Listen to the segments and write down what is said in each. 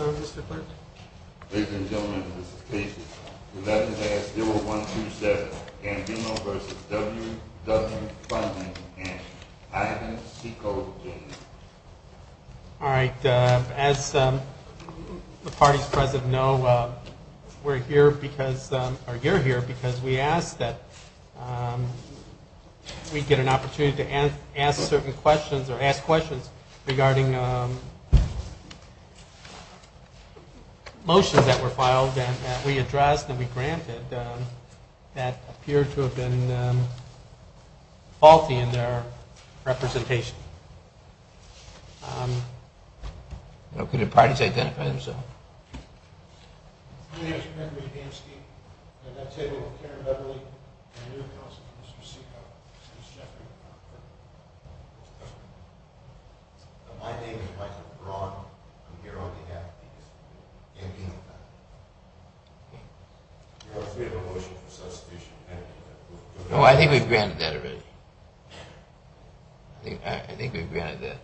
Ladies and gentlemen, this is Casey. We'd like to ask 0127 Ambino v. WW Funding, and I have an SECO objection. motions that were filed and that we addressed and we granted that appear to have been faulty in their representation. Could the parties identify themselves? My name is Michael Braun. I'm here on behalf of the Ambino Foundation. We have a motion for substitution. Oh, I think we've granted that already. I think we've granted that.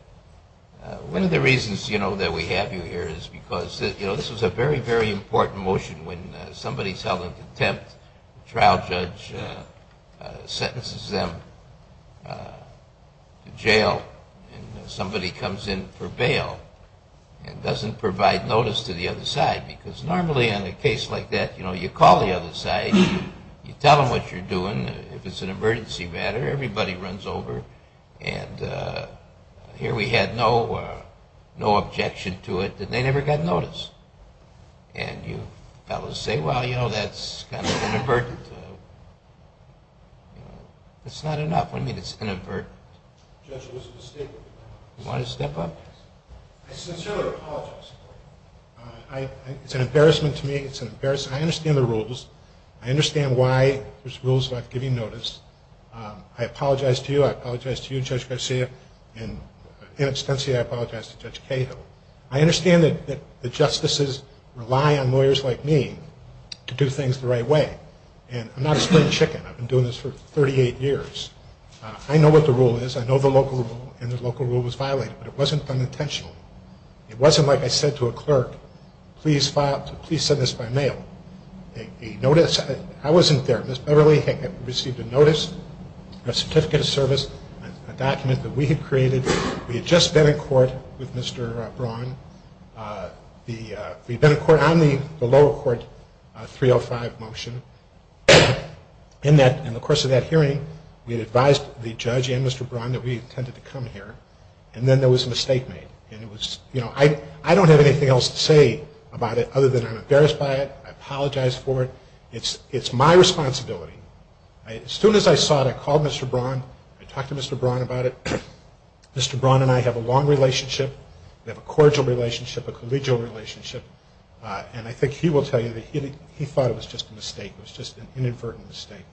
One of the reasons, you know, that we have you here is because, you know, this was a very, very important motion when somebody's held in contempt, trial judge sentences them to jail, and somebody comes in for a case like that, you know, you call the other side, you tell them what you're doing, if it's an emergency matter, everybody runs over, and here we had no objection to it, and they never got noticed. And you fellows say, well, you know, that's kind of inadvertent. It's not enough. What do you mean it's inadvertent? The judge was mistaken. You want to step up? I sincerely apologize. It's an embarrassment to me. It's an embarrassment. I understand the rules. I understand why there's rules about giving notice. I apologize to you. I apologize to you, Judge Garcia, and in extension, I apologize to Judge Cahill. I understand that the justices rely on lawyers like me to do things the right way, and I'm not a spring chicken. I've been doing this for 38 years. I know what the rule is. I know the local rule was violated, but it wasn't unintentional. It wasn't like I said to a clerk, please file, please send this by mail. A notice, I wasn't there. Ms. Beverly had received a notice, a certificate of service, a document that we had created. We had just been in court with Mr. Braun. We'd been in court on the lower court 305 motion. In the course of that hearing, we had advised the judge and Mr. Braun that we intended to come here, and then there was a mistake made. I don't have anything else to say about it other than I'm embarrassed by it. I apologize for it. It's my responsibility. As soon as I saw it, I called Mr. Braun. I talked to Mr. Braun about it. Mr. Braun and I have a long relationship. We have a cordial relationship, a collegial relationship, and I think he will tell you that he thought it was just a mistake. It was just an inadvertent mistake.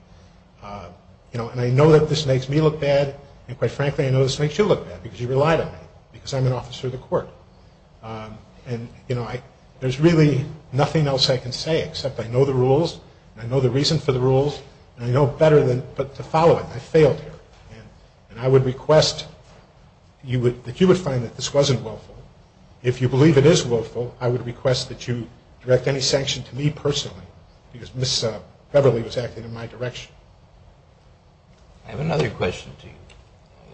And I know that this makes me look bad, and quite frankly, I know this makes you look bad, because you relied on me, because I'm an officer of the court. And there's really nothing else I can say, except I know the rules, and I know the reason for the rules, and I know better than to follow it. I failed here. And I would request that you would find that this wasn't willful. If you believe it is willful, I would request that you direct any sanction to me personally, because Ms. Beverly was acting in my direction. I have another question to you.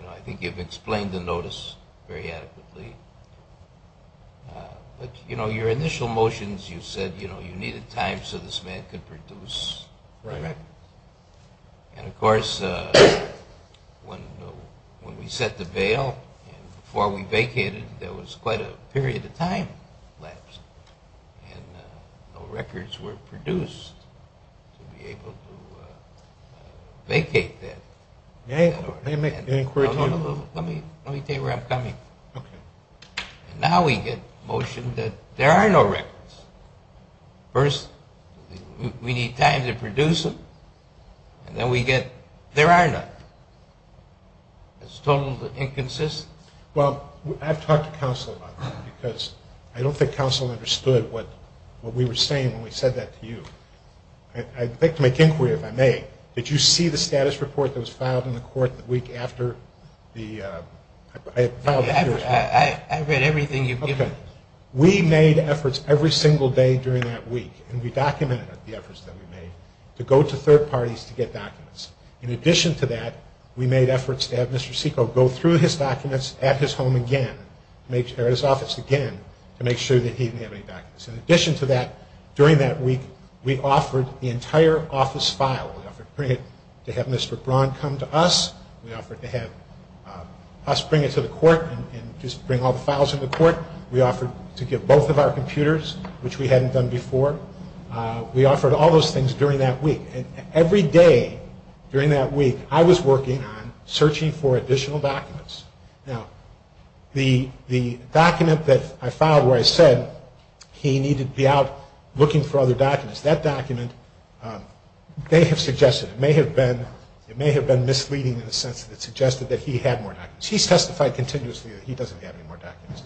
I think you've explained the notice very adequately. But your initial motions, you said you needed time so this man could produce the record. And of course, when we set the bail, and before we vacated, there was quite a period of time lapse, and no records were produced to be able to vacate that. Let me tell you where I'm coming from. And now we get motion that there are no records. First, we need time to produce them, and then we get there are none. It's totally inconsistent. Well, I've talked to counsel about that, because I don't think counsel understood what we were saying when we said that to you. I'd like to make inquiry, if I may. Did you see the status report that was filed in the court the week after the... I read everything you've given. We made efforts every single day during that week, and we documented the efforts that we made, to go to third parties to get documents. In addition to that, we made efforts to have Mr. Seko go through his documents at his home again, or his office again, to make sure that he didn't have any documents. In addition to that, during that week, we offered the entire office file. We offered to bring it to have Mr. Braun come to us. We offered to have us bring it to the court and just bring all the files to the court. We offered to give both of our computers, which we hadn't done before. We offered all those things during that week. And every day during that week, I was working on searching for additional documents. Now, the document that I filed where I said he needed to be out looking for other documents, that document, they have suggested it may have been misleading in the sense that it suggested that he had more documents. He's testified continuously that he doesn't have any more documents.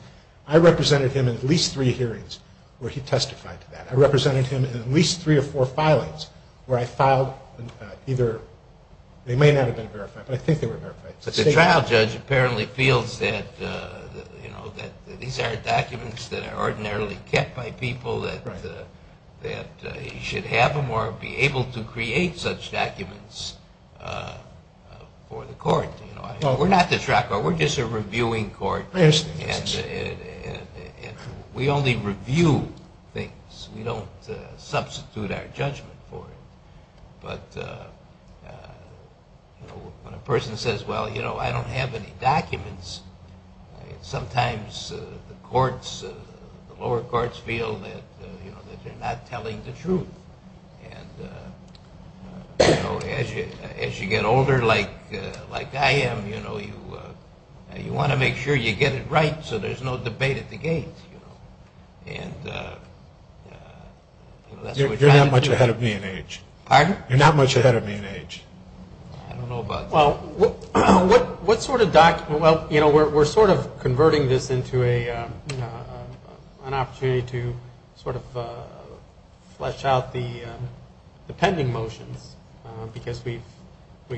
I represented him in at least three hearings where he testified to that. I represented him in at least three or four filings where I filed either... They may not have been verified, but I think they were verified. But the trial judge apparently feels that these are documents that are ordinarily kept by people, that he should have them or be able to create such documents for the I don't have any documents. Sometimes the courts, the lower courts feel that they're not telling the truth. And as you get older like I am, you want to make sure you get it right so there's no debate at the gate. You're not much ahead of me in age. Pardon? You're not much ahead of me in age. I don't know about that. Well, what sort of document, well, you know, we're sort of converting this into an opportunity to sort of flesh out the pending motions because we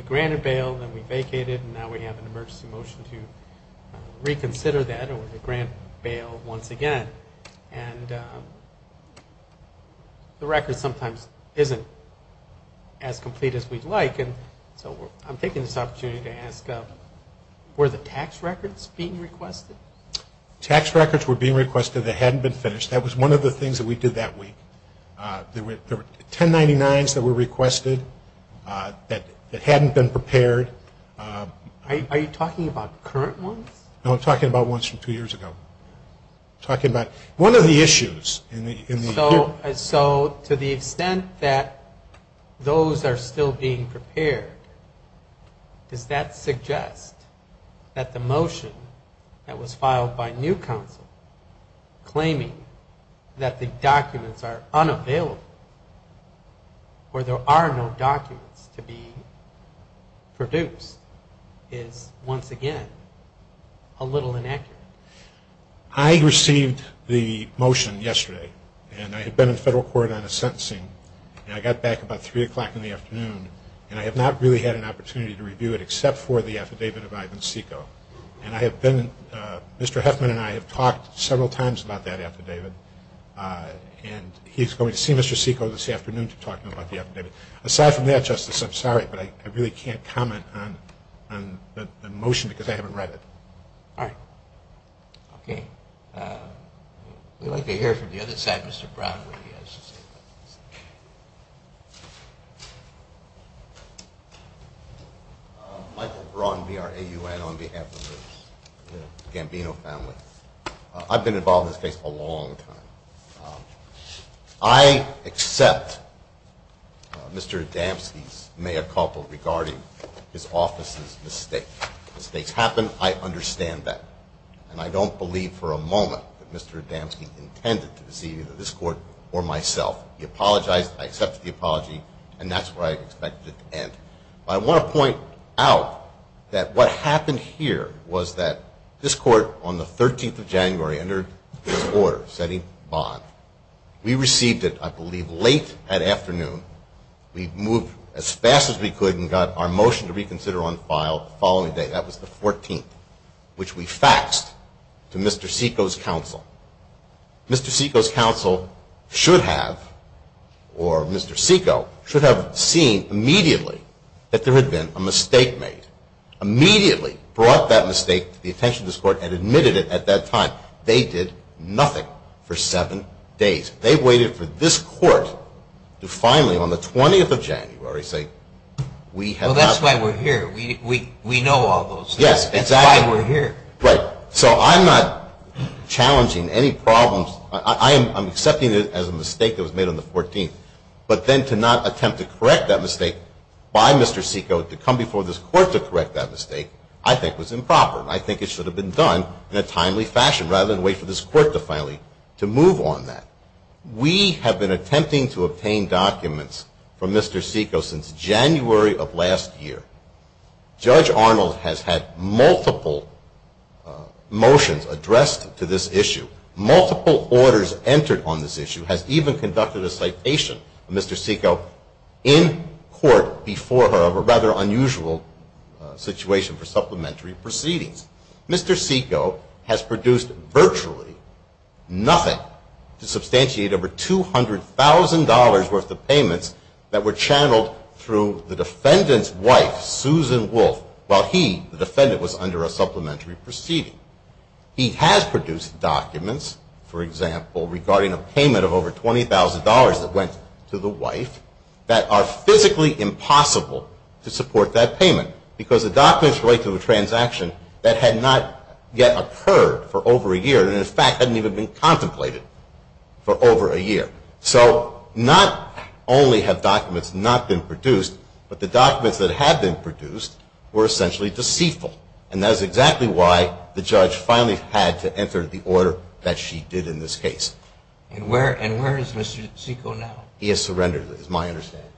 granted bail and we vacated and now we have an emergency motion to reconsider that or to grant bail once again. And the record sometimes isn't as complete as we'd like and so I'm taking this opportunity to ask, were the tax records being requested? Tax records were being requested that hadn't been finished. That was one of the things that we did that week. There were 1099s that were requested that hadn't been prepared. Are you talking about current ones? No, I'm talking about ones from two years ago. I'm talking about one of the issues in the... So to the extent that those are still being prepared, does that suggest that the motion that was filed by New Counsel claiming that the documents are unavailable or there are no documents to be produced is once again a little inaccurate? I received the motion yesterday and I had been in federal court on a sentencing and I got back about 3 o'clock in the afternoon and I have not really had an opportunity to review it except for the affidavit of Ivan Seiko. And I have been, Mr. Huffman and I have talked several times about that affidavit and he's going to see Mr. Seiko this afternoon to talk to him about the affidavit. Aside from that, Justice, I'm sorry, but I really can't comment on the motion because I haven't read it. All right. Okay. We'd like to hear from the other side. Mr. Brown, would you like to say something? Michael Brown, B-R-A-U-N, on behalf of the Gambino family. I've been involved in this case a long time. I accept Mr. Adamski's mea culpa regarding his office's mistake. Mistakes happen. I understand that. And I don't believe for a moment that Mr. Adamski intended to deceive either this court or myself. He apologized. I accept the apology and that's where I expect it to end. But I want to point out that what happened here was that this court on the 13th of January entered this order setting bond. We received it, I believe, late that afternoon. We moved as fast as we could and got our motion to reconsider on file the following day. That was the 14th, which we faxed to Mr. Seiko's counsel. Mr. Seiko's counsel should have, or Mr. Seiko should have seen immediately that there had been a mistake made. Immediately brought that mistake to the attention of this court and admitted it at that time. They did nothing for seven days. They waited for this court to finally, on the 20th of January, say we have not... Well, that's why we're here. We know all those things. That's why we're here. Right. So I'm not challenging any problems. I'm accepting it as a mistake that was made on the 14th. But then to not attempt to correct that mistake by Mr. Seiko, to come before this court to correct that mistake, I think was improper. I think it should have been done in a timely fashion rather than wait for this court to finally move on that. We have been attempting to obtain documents from Mr. Seiko since January of last year. Judge Arnold has had multiple motions addressed to this issue, multiple orders entered on this issue, has even conducted a citation of Mr. Seiko in court before her of a rather unusual situation for supplementary proceedings. Mr. Seiko has produced virtually nothing to substantiate over $200,000 worth of payments that were channeled through the defendant's wife, Susan Wolf, while he, the defendant, was under a supplementary proceeding. He has produced documents, for example, regarding a payment of over $20,000 that went to the wife that are physically impossible to support that payment because the documents relate to a transaction that had not yet occurred for over a year and, in fact, hadn't even been contemplated for over a year. So not only have documents not been produced, but the documents that had been produced were essentially deceitful. And that is exactly why the judge finally had to enter the order that she did in this case. And where is Mr. Seiko now? He has surrendered, is my understanding.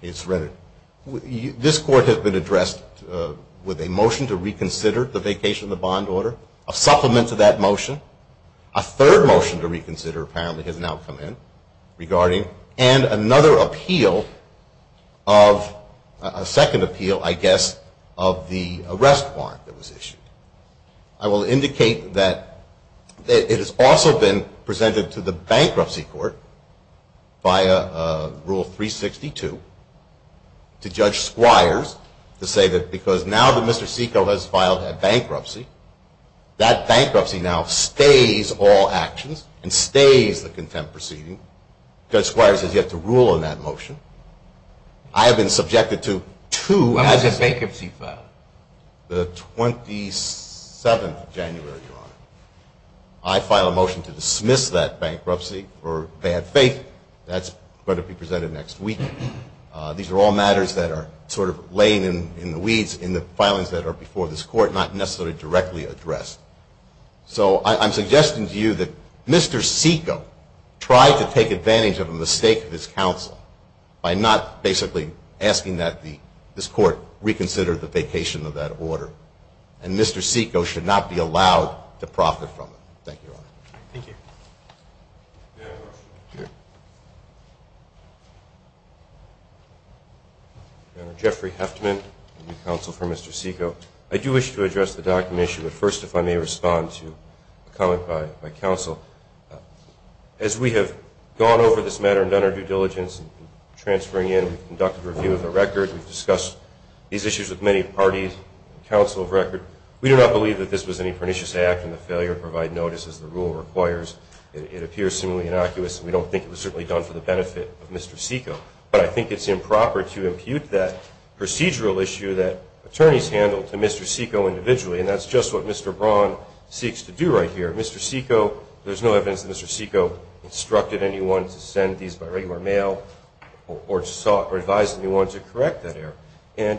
He has surrendered. This court has been addressed with a motion to reconsider the vacation of the bond order, a supplement to that motion, a third motion to reconsider apparently has now come in regarding, and another appeal of, a second appeal, I guess, of the arrest warrant that was issued. I will indicate that it has also been presented to the bankruptcy court via Rule 362 to Judge Squires to say that because now that Mr. Seiko has filed a bankruptcy, that bankruptcy now stays all actions and stays the contempt proceeding. Judge Squires has yet to rule on that motion. I have been subjected to two assessments. When was the bankruptcy filed? The 27th of January, Your Honor. I file a motion to dismiss that bankruptcy for bad faith. That's going to be presented next week. These are all matters that are sort of laying in the weeds in the filings that are before this court, not necessarily directly addressed. So I'm suggesting to you that Mr. Seiko tried to take advantage of a mistake of his counsel by not basically asking that this court reconsider the vacation of that order. And Mr. Seiko should not be allowed to profit from it. Thank you, Your Honor. Thank you. Your Honor, Jeffrey Heftman, counsel for Mr. Seiko. I do wish to address the document issue, but first if I may respond to a comment by counsel. As we have gone over this matter and done our due diligence in transferring in, we've conducted a review of the record. We've discussed these issues with many parties and counsel of record. We do not believe that this was any pernicious act in the failure to provide notice as the rule requires. It appears seemingly innocuous, and we don't think it was certainly done for the benefit of Mr. Seiko. But I think it's improper to impute that procedural issue that attorneys handled to Mr. Seiko individually, and that's just what Mr. Braun seeks to do right here. Mr. Seiko, there's no evidence that Mr. Seiko instructed anyone to send these by regular mail or advised anyone to correct that error. And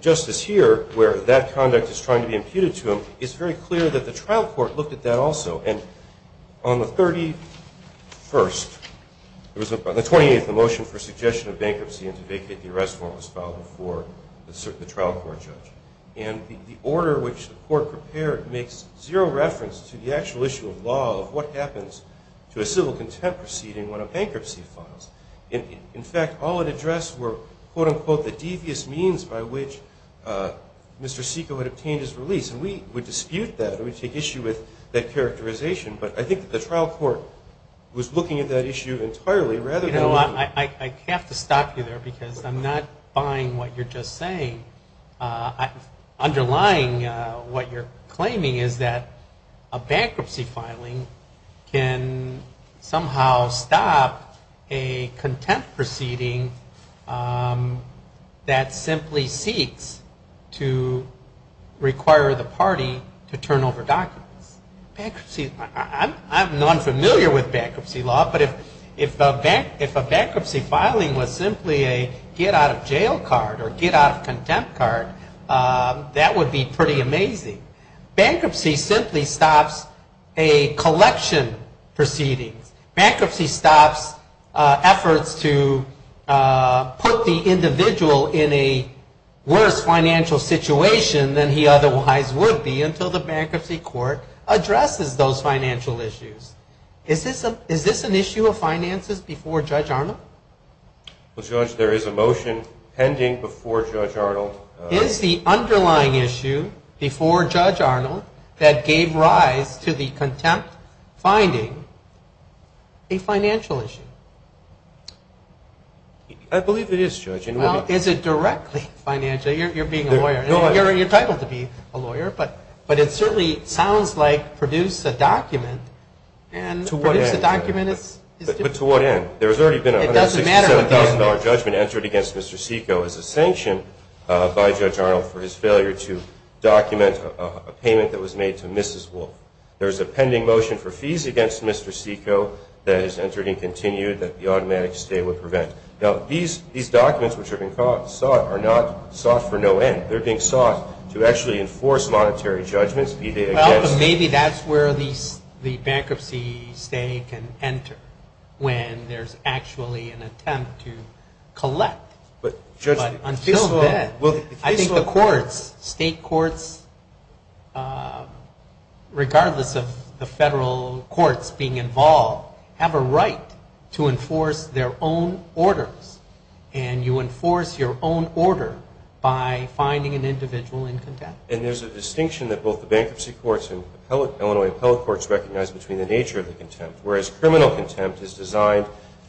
just as here, where that conduct is trying to be imputed to him, it's very clear that the trial court looked at that also. And on the 31st, it was on the 28th, the motion for suggestion of bankruptcy and to vacate the arrest form was filed before the trial court judge. And the order which the court prepared makes zero reference to the actual issue of law, of what happens to a civil contempt proceeding when a bankruptcy falls. In fact, all it addressed were, quote-unquote, the devious means by which Mr. Seiko had obtained his release. And we dispute that, and we take issue with that characterization. But I think that the trial court was looking at that issue entirely rather than... You know, I have to stop you there because I'm not buying what you're just saying. Underlying what you're claiming is that a bankruptcy filing can somehow stop a contempt proceeding that simply seeks to require the party to turn over documents. I'm not familiar with bankruptcy law, but if a bankruptcy filing was simply a get out of jail card or get out of contempt proceeding, that would be pretty amazing. Bankruptcy simply stops a collection proceeding. Bankruptcy stops efforts to put the individual in a worse financial situation than he otherwise would be until the bankruptcy court addresses those financial issues. Is this an issue of finances before Judge Arnold? Well, Judge, there is a motion pending before Judge Arnold. Is the underlying issue before Judge Arnold that gave rise to the contempt finding a financial issue? I believe it is, Judge. Well, is it directly financial? You're being a lawyer. You're entitled to be a lawyer. But it certainly sounds like produce a document. But to what end? There has already been a $167,000 judgment entered against Mr. Seiko as a sanction by Judge Arnold for his failure to document a payment that was made to Mrs. Wolf. There is a pending motion for fees against Mr. Seiko that is entered and continued that the automatic stay would prevent. Now, these documents which are being sought are not sought for no end. They're being sought to actually enforce monetary judgments. Well, but maybe that's where the bankruptcy stay can enter when there's actually an attempt to collect. But until then, I think the courts, state courts, regardless of the federal courts being involved, have a right to enforce their own orders. And you enforce your own order by finding an individual in contempt. And there's a distinction that both the bankruptcy courts and Illinois appellate courts recognize between the nature of the contempt, whereas criminal contempt is designed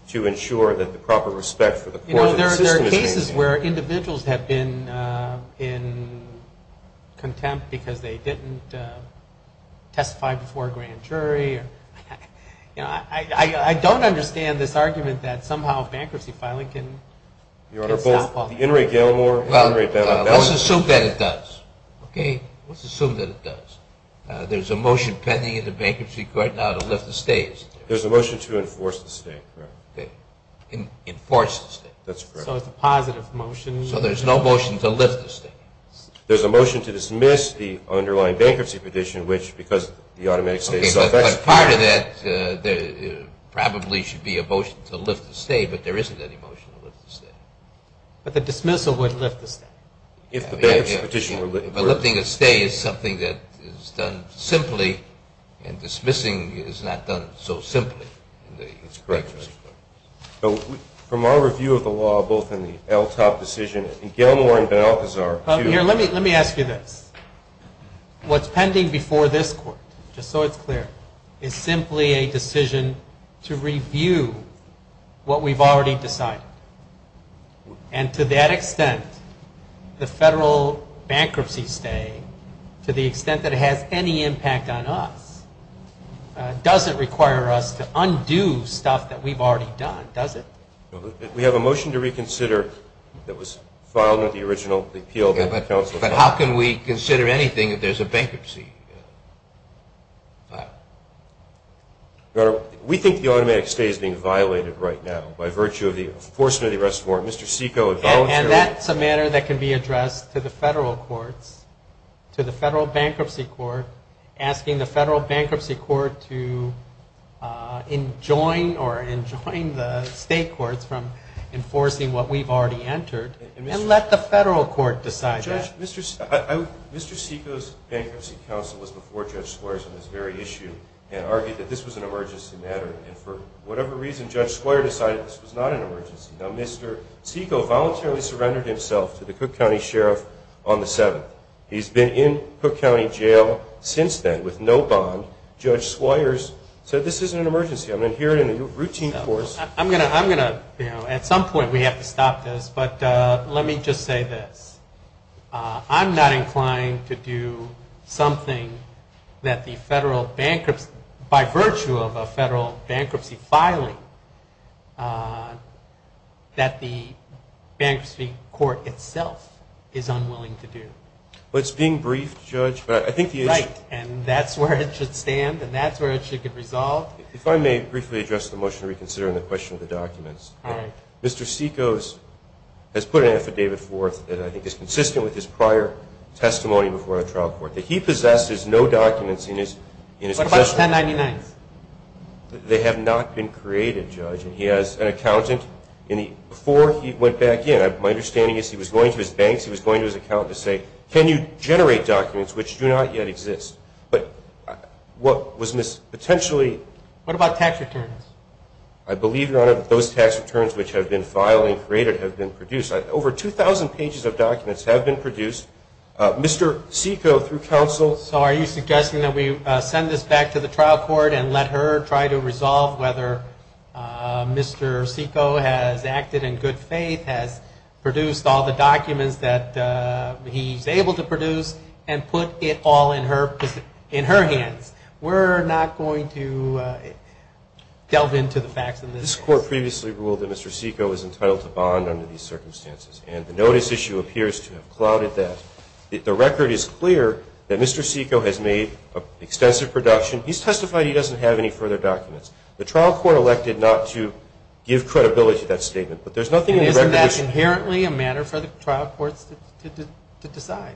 to ensure that the proper respect for the court and the system is maintained. This is where individuals have been in contempt because they didn't testify before a grand jury. I don't understand this argument that somehow bankruptcy filing can stop. Let's assume that it does. There's a motion pending in the bankruptcy court now to lift the stay. There's a motion to enforce the stay. So there's no motion to lift the stay. Part of that probably should be a motion to lift the stay, but there isn't any motion to lift the stay. But the dismissal would lift the stay. If the bankruptcy petition were lifted. But lifting the stay is something that is done simply, and dismissing is not done so simply. That's correct. Let me ask you this. What's pending before this court, just so it's clear, is simply a decision to review what we've already decided. And to that extent, the federal bankruptcy stay, to the extent that it has any impact on us, doesn't require us to undo stuff that we've already done, does it? We have a motion to reconsider that was filed in the original appeal. But how can we consider anything if there's a bankruptcy? Your Honor, we think the automatic stay is being violated right now by virtue of the enforcement of the arrest warrant. And that's a matter that can be addressed to the federal courts, to the federal bankruptcy court, asking the federal bankruptcy court to enjoin or enjoin the state courts from enforcing what we've already entered, and let the federal court decide that. Mr. Seiko's bankruptcy counsel was before Judge Squires on this very issue and argued that this was an emergency matter. And for whatever reason, Judge Squires decided this was not an emergency. Now, Mr. Seiko voluntarily surrendered himself to the Cook County Sheriff on the 7th. He's been in Cook County Jail since then with no bond. Judge Squires said this is an emergency. I'm going to hear it in a routine course. At some point we have to stop this, but let me just say this. I'm not inclined to do something that the federal bankruptcy, by virtue of a federal bankruptcy filing, that the bankruptcy court itself is unwilling to do. Well, it's being briefed, Judge. If I may briefly address the motion to reconsider on the question of the documents. Mr. Seiko has put an affidavit forth that I think is consistent with his prior testimony before the trial court, that he possesses no documents in his possession. They have not been created, Judge, and he has an accountant. Before he went back in, my understanding is he was going to his banks, he was going to his accountant to say, can you generate documents which do not yet exist? What about tax returns? I believe, Your Honor, that those tax returns which have been filed and created have been produced. Over 2,000 pages of documents have been produced. So are you suggesting that we send this back to the trial court and let her try to resolve whether Mr. Seiko has acted in good faith, has produced all the documents that he's able to produce, and put it all in her hands? We're not going to delve into the facts in this case. This Court previously ruled that Mr. Seiko is entitled to bond under these circumstances, and the notice issue appears to have clouded that. The record is clear that Mr. Seiko has made extensive production. He's testified he doesn't have any further documents. The trial court elected not to give credibility to that statement, but there's nothing in the record that's clear. Isn't that inherently a matter for the trial courts to decide?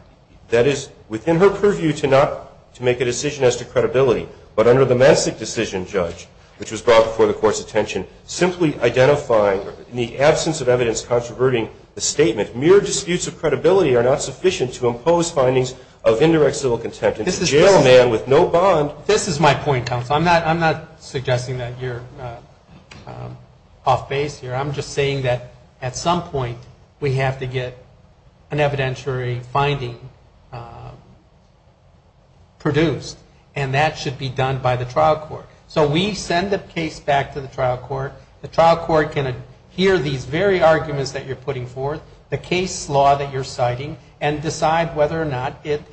That is within her purview to not make a decision as to credibility. But under the Messick decision, Judge, which was brought before the Court's attention, simply identifying in the absence of evidence controverting the statement, mere disputes of credibility are not sufficient to impose findings of indirect civil contempt. This is my point, counsel. I'm not suggesting that you're off base here. I'm just saying that at some point we have to get an evidentiary finding produced, and that should be done by the trial court. So we send the case back to the trial court. The trial court can hear these very arguments that you're putting forth, the case law that you're citing, and decide whether or not it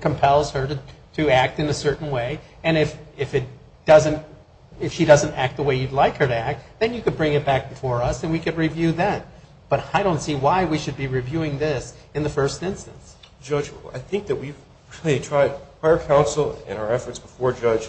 compels her to act in a certain way. And if she doesn't act the way you'd like her to act, then you could bring it back before us, and we could review that. But I don't see why we should be reviewing this in the first instance. Judge, I think that we've really tried prior counsel and our efforts before Judge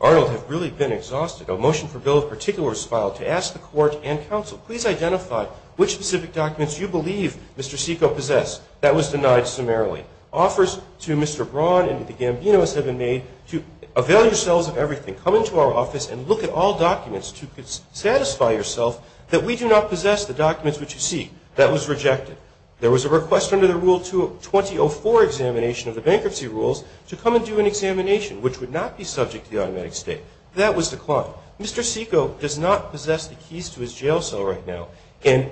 Arnold have really been exhausted. A motion for bill of particulars filed to ask the Court and counsel, please identify which specific documents you believe Mr. Seiko possessed. That was denied summarily. Offers to Mr. Braun and to the Gambinos have been made to avail yourselves of everything. Come into our office and look at all documents to satisfy yourself that we do not possess the documents which you seek. That was rejected. There was a request under the Rule 20-04 examination of the bankruptcy rules to come and do an examination, which would not be subject to the automatic state. That was declined. Mr. Seiko does not possess the keys to his jail cell right now. And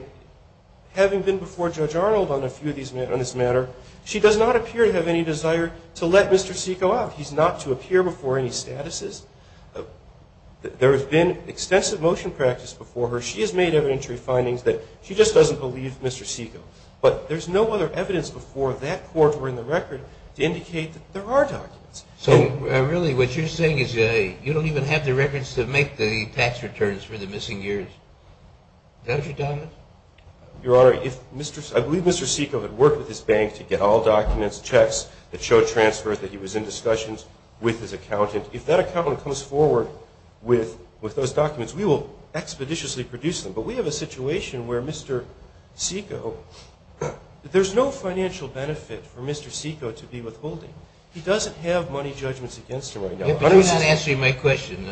having been before Judge Arnold on this matter, she does not appear to have any desire to let Mr. Seiko out. He's not to appear before any statuses. There has been extensive motion practice before her. She has made evidentiary findings that she just doesn't believe Mr. Seiko. But there's no other evidence before that court or in the record to indicate that there are documents. So really what you're saying is you don't even have the records to make the tax returns for the missing years. Is that what you're talking about? Your Honor, I believe Mr. Seiko had worked with his bank to get all documents, checks that showed transfer that he was in discussions with his accountant. If that accountant comes forward with those documents, we will expeditiously produce them. But we have a situation where Mr. Seiko, there's no financial benefit for Mr. Seiko to be withholding. He doesn't have money judgments against him right now. But he's not answering my question.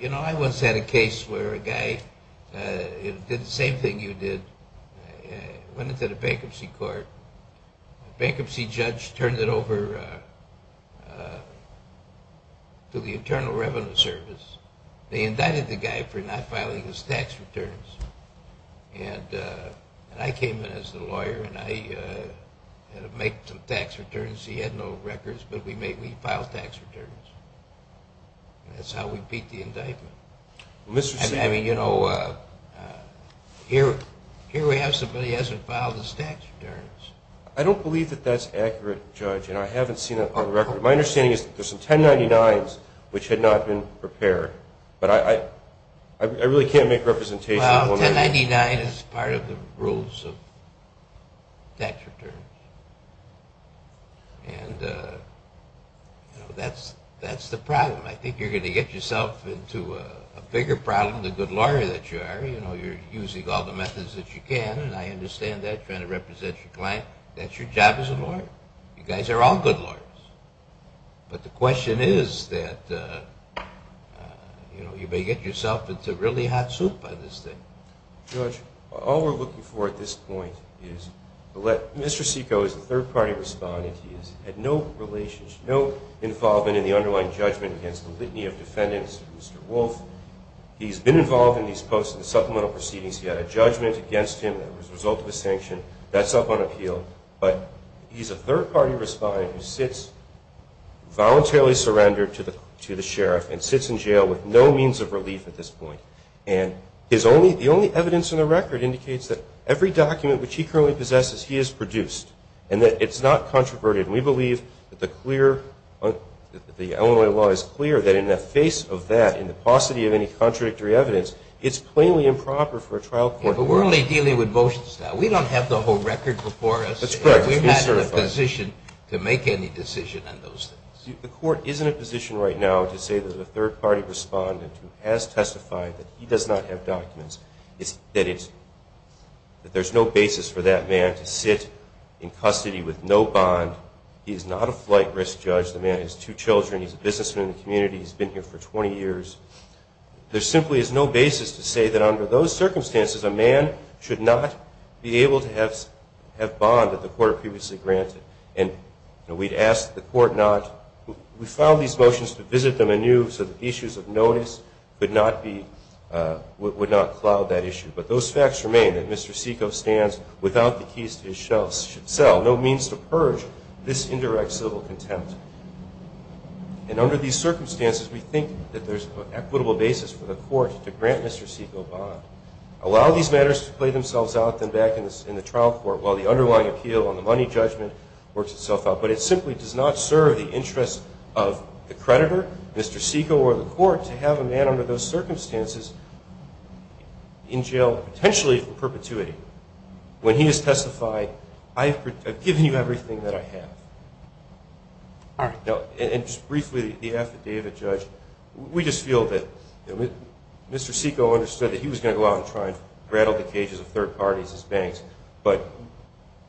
You know, I once had a case where a guy did the same thing you did, went into the bankruptcy court. The bankruptcy judge turned it over to the Internal Revenue Service. They indicted the guy for not filing his tax returns. And I came in as the lawyer, and I had to make some tax returns. The bankruptcy had no records, but we filed tax returns. That's how we beat the indictment. I mean, you know, here we have somebody who hasn't filed his tax returns. I don't believe that that's accurate, Judge, and I haven't seen it on record. My understanding is that there's some 1099s which had not been prepared. But I really can't make representation. Well, 1099 is part of the rules of tax returns. And that's the problem. I think you're going to get yourself into a bigger problem, the good lawyer that you are. You know, you're using all the methods that you can, and I understand that, trying to represent your client. That's your job as a lawyer. You guys are all good lawyers. But the question is that, you know, you may get yourself into really hot soup by this thing. Judge, all we're looking for at this point is Mr. Seiko is a third-party respondent. He has had no involvement in the underlying judgment against the litany of defendants, Mr. Wolf. He's been involved in these post-and-supplemental proceedings. He had a judgment against him that was the result of a sanction. That's up on appeal. But he's a third-party respondent who sits, voluntarily surrendered to the sheriff, and sits in jail with no means of relief at this point. And the only evidence in the record indicates that every document which he currently possesses he has produced and that it's not controverted. And we believe that the Illinois law is clear that in the face of that, in the paucity of any contradictory evidence, it's plainly improper for a trial court. Yeah, but we're only dealing with motions now. We don't have the whole record before us. That's correct. We're not in a position to make any decision on those things. The court is in a position right now to say that a third-party respondent who has testified that he does not have documents, that there's no basis for that man to sit in custody with no bond. He is not a flight risk judge. The man has two children. He's a businessman in the community. He's been here for 20 years. There simply is no basis to say that under those circumstances, a man should not be able to have bond that the court previously granted. And we'd ask the court not. We filed these motions to visit them anew so that issues of notice would not cloud that issue. But those facts remain that Mr. Seiko stands without the keys to his shelf, no means to purge this indirect civil contempt. And under these circumstances, we think that there's an equitable basis for the court to grant Mr. Seiko a bond, allow these matters to play themselves out, then back in the trial court while the underlying appeal on the money judgment works itself out. But it simply does not serve the interest of the creditor, Mr. Seiko, or the court to have a man under those circumstances in jail, potentially for perpetuity, when he has testified, I've given you everything that I have. All right. And just briefly, the affidavit, Judge, we just feel that Mr. Seiko understood that he was going to go out and try and rattle the cages of third parties, his banks. But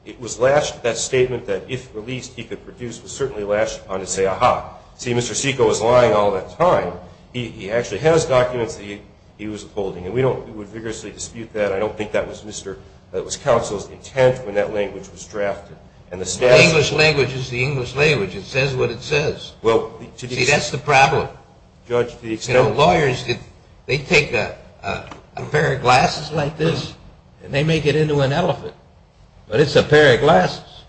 it was that statement that if released, he could produce, was certainly lashed on to say, ah-ha, see, Mr. Seiko was lying all that time. He actually has documents that he was holding. And we don't vigorously dispute that. I don't think that was counsel's intent when that language was drafted. The English language is the English language. It says what it says. See, that's the problem. You know, lawyers, they take a pair of glasses like this and they make it into an elephant. But it's a pair of glasses,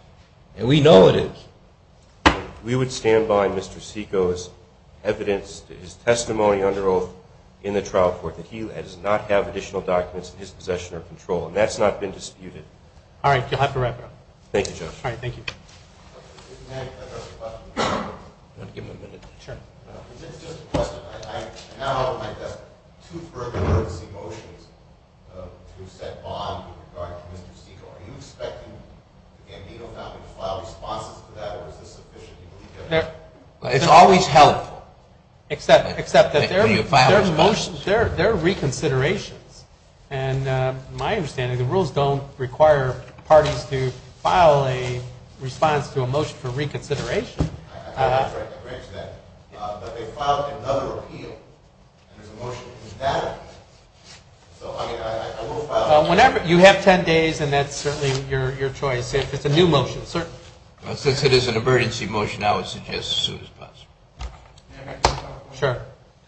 and we know it is. We would stand by Mr. Seiko's evidence, his testimony under oath in the trial court, that he does not have additional documents in his possession or control. And that's not been disputed. All right. You'll have to wrap it up. Thank you, Judge. All right. Thank you. If you may, I have a question. You want to give him a minute? Sure. It's just a question. I now have two further urgency motions to set bond with regard to Mr. Seiko. Are you expecting the Gambino family to file responses to that, or is this sufficient? It's always held. Except that they're reconsiderations. And my understanding, the rules don't require parties to file a response to a motion for reconsideration. I'm afraid to bridge that. But they filed another appeal, and there's a motion to do that. So, I mean, I will file a motion. Whenever. You have ten days, and that's certainly your choice if it's a new motion. Well, since it is an emergency motion, I would suggest as soon as possible. May I make one final motion? Sure.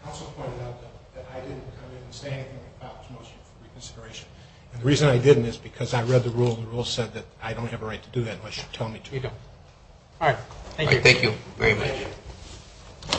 Counsel pointed out that I didn't come in and say anything about this motion for reconsideration. And the reason I didn't is because I read the rule. The rule said that I don't have a right to do that unless you tell me to. All right. Thank you. Thank you very much.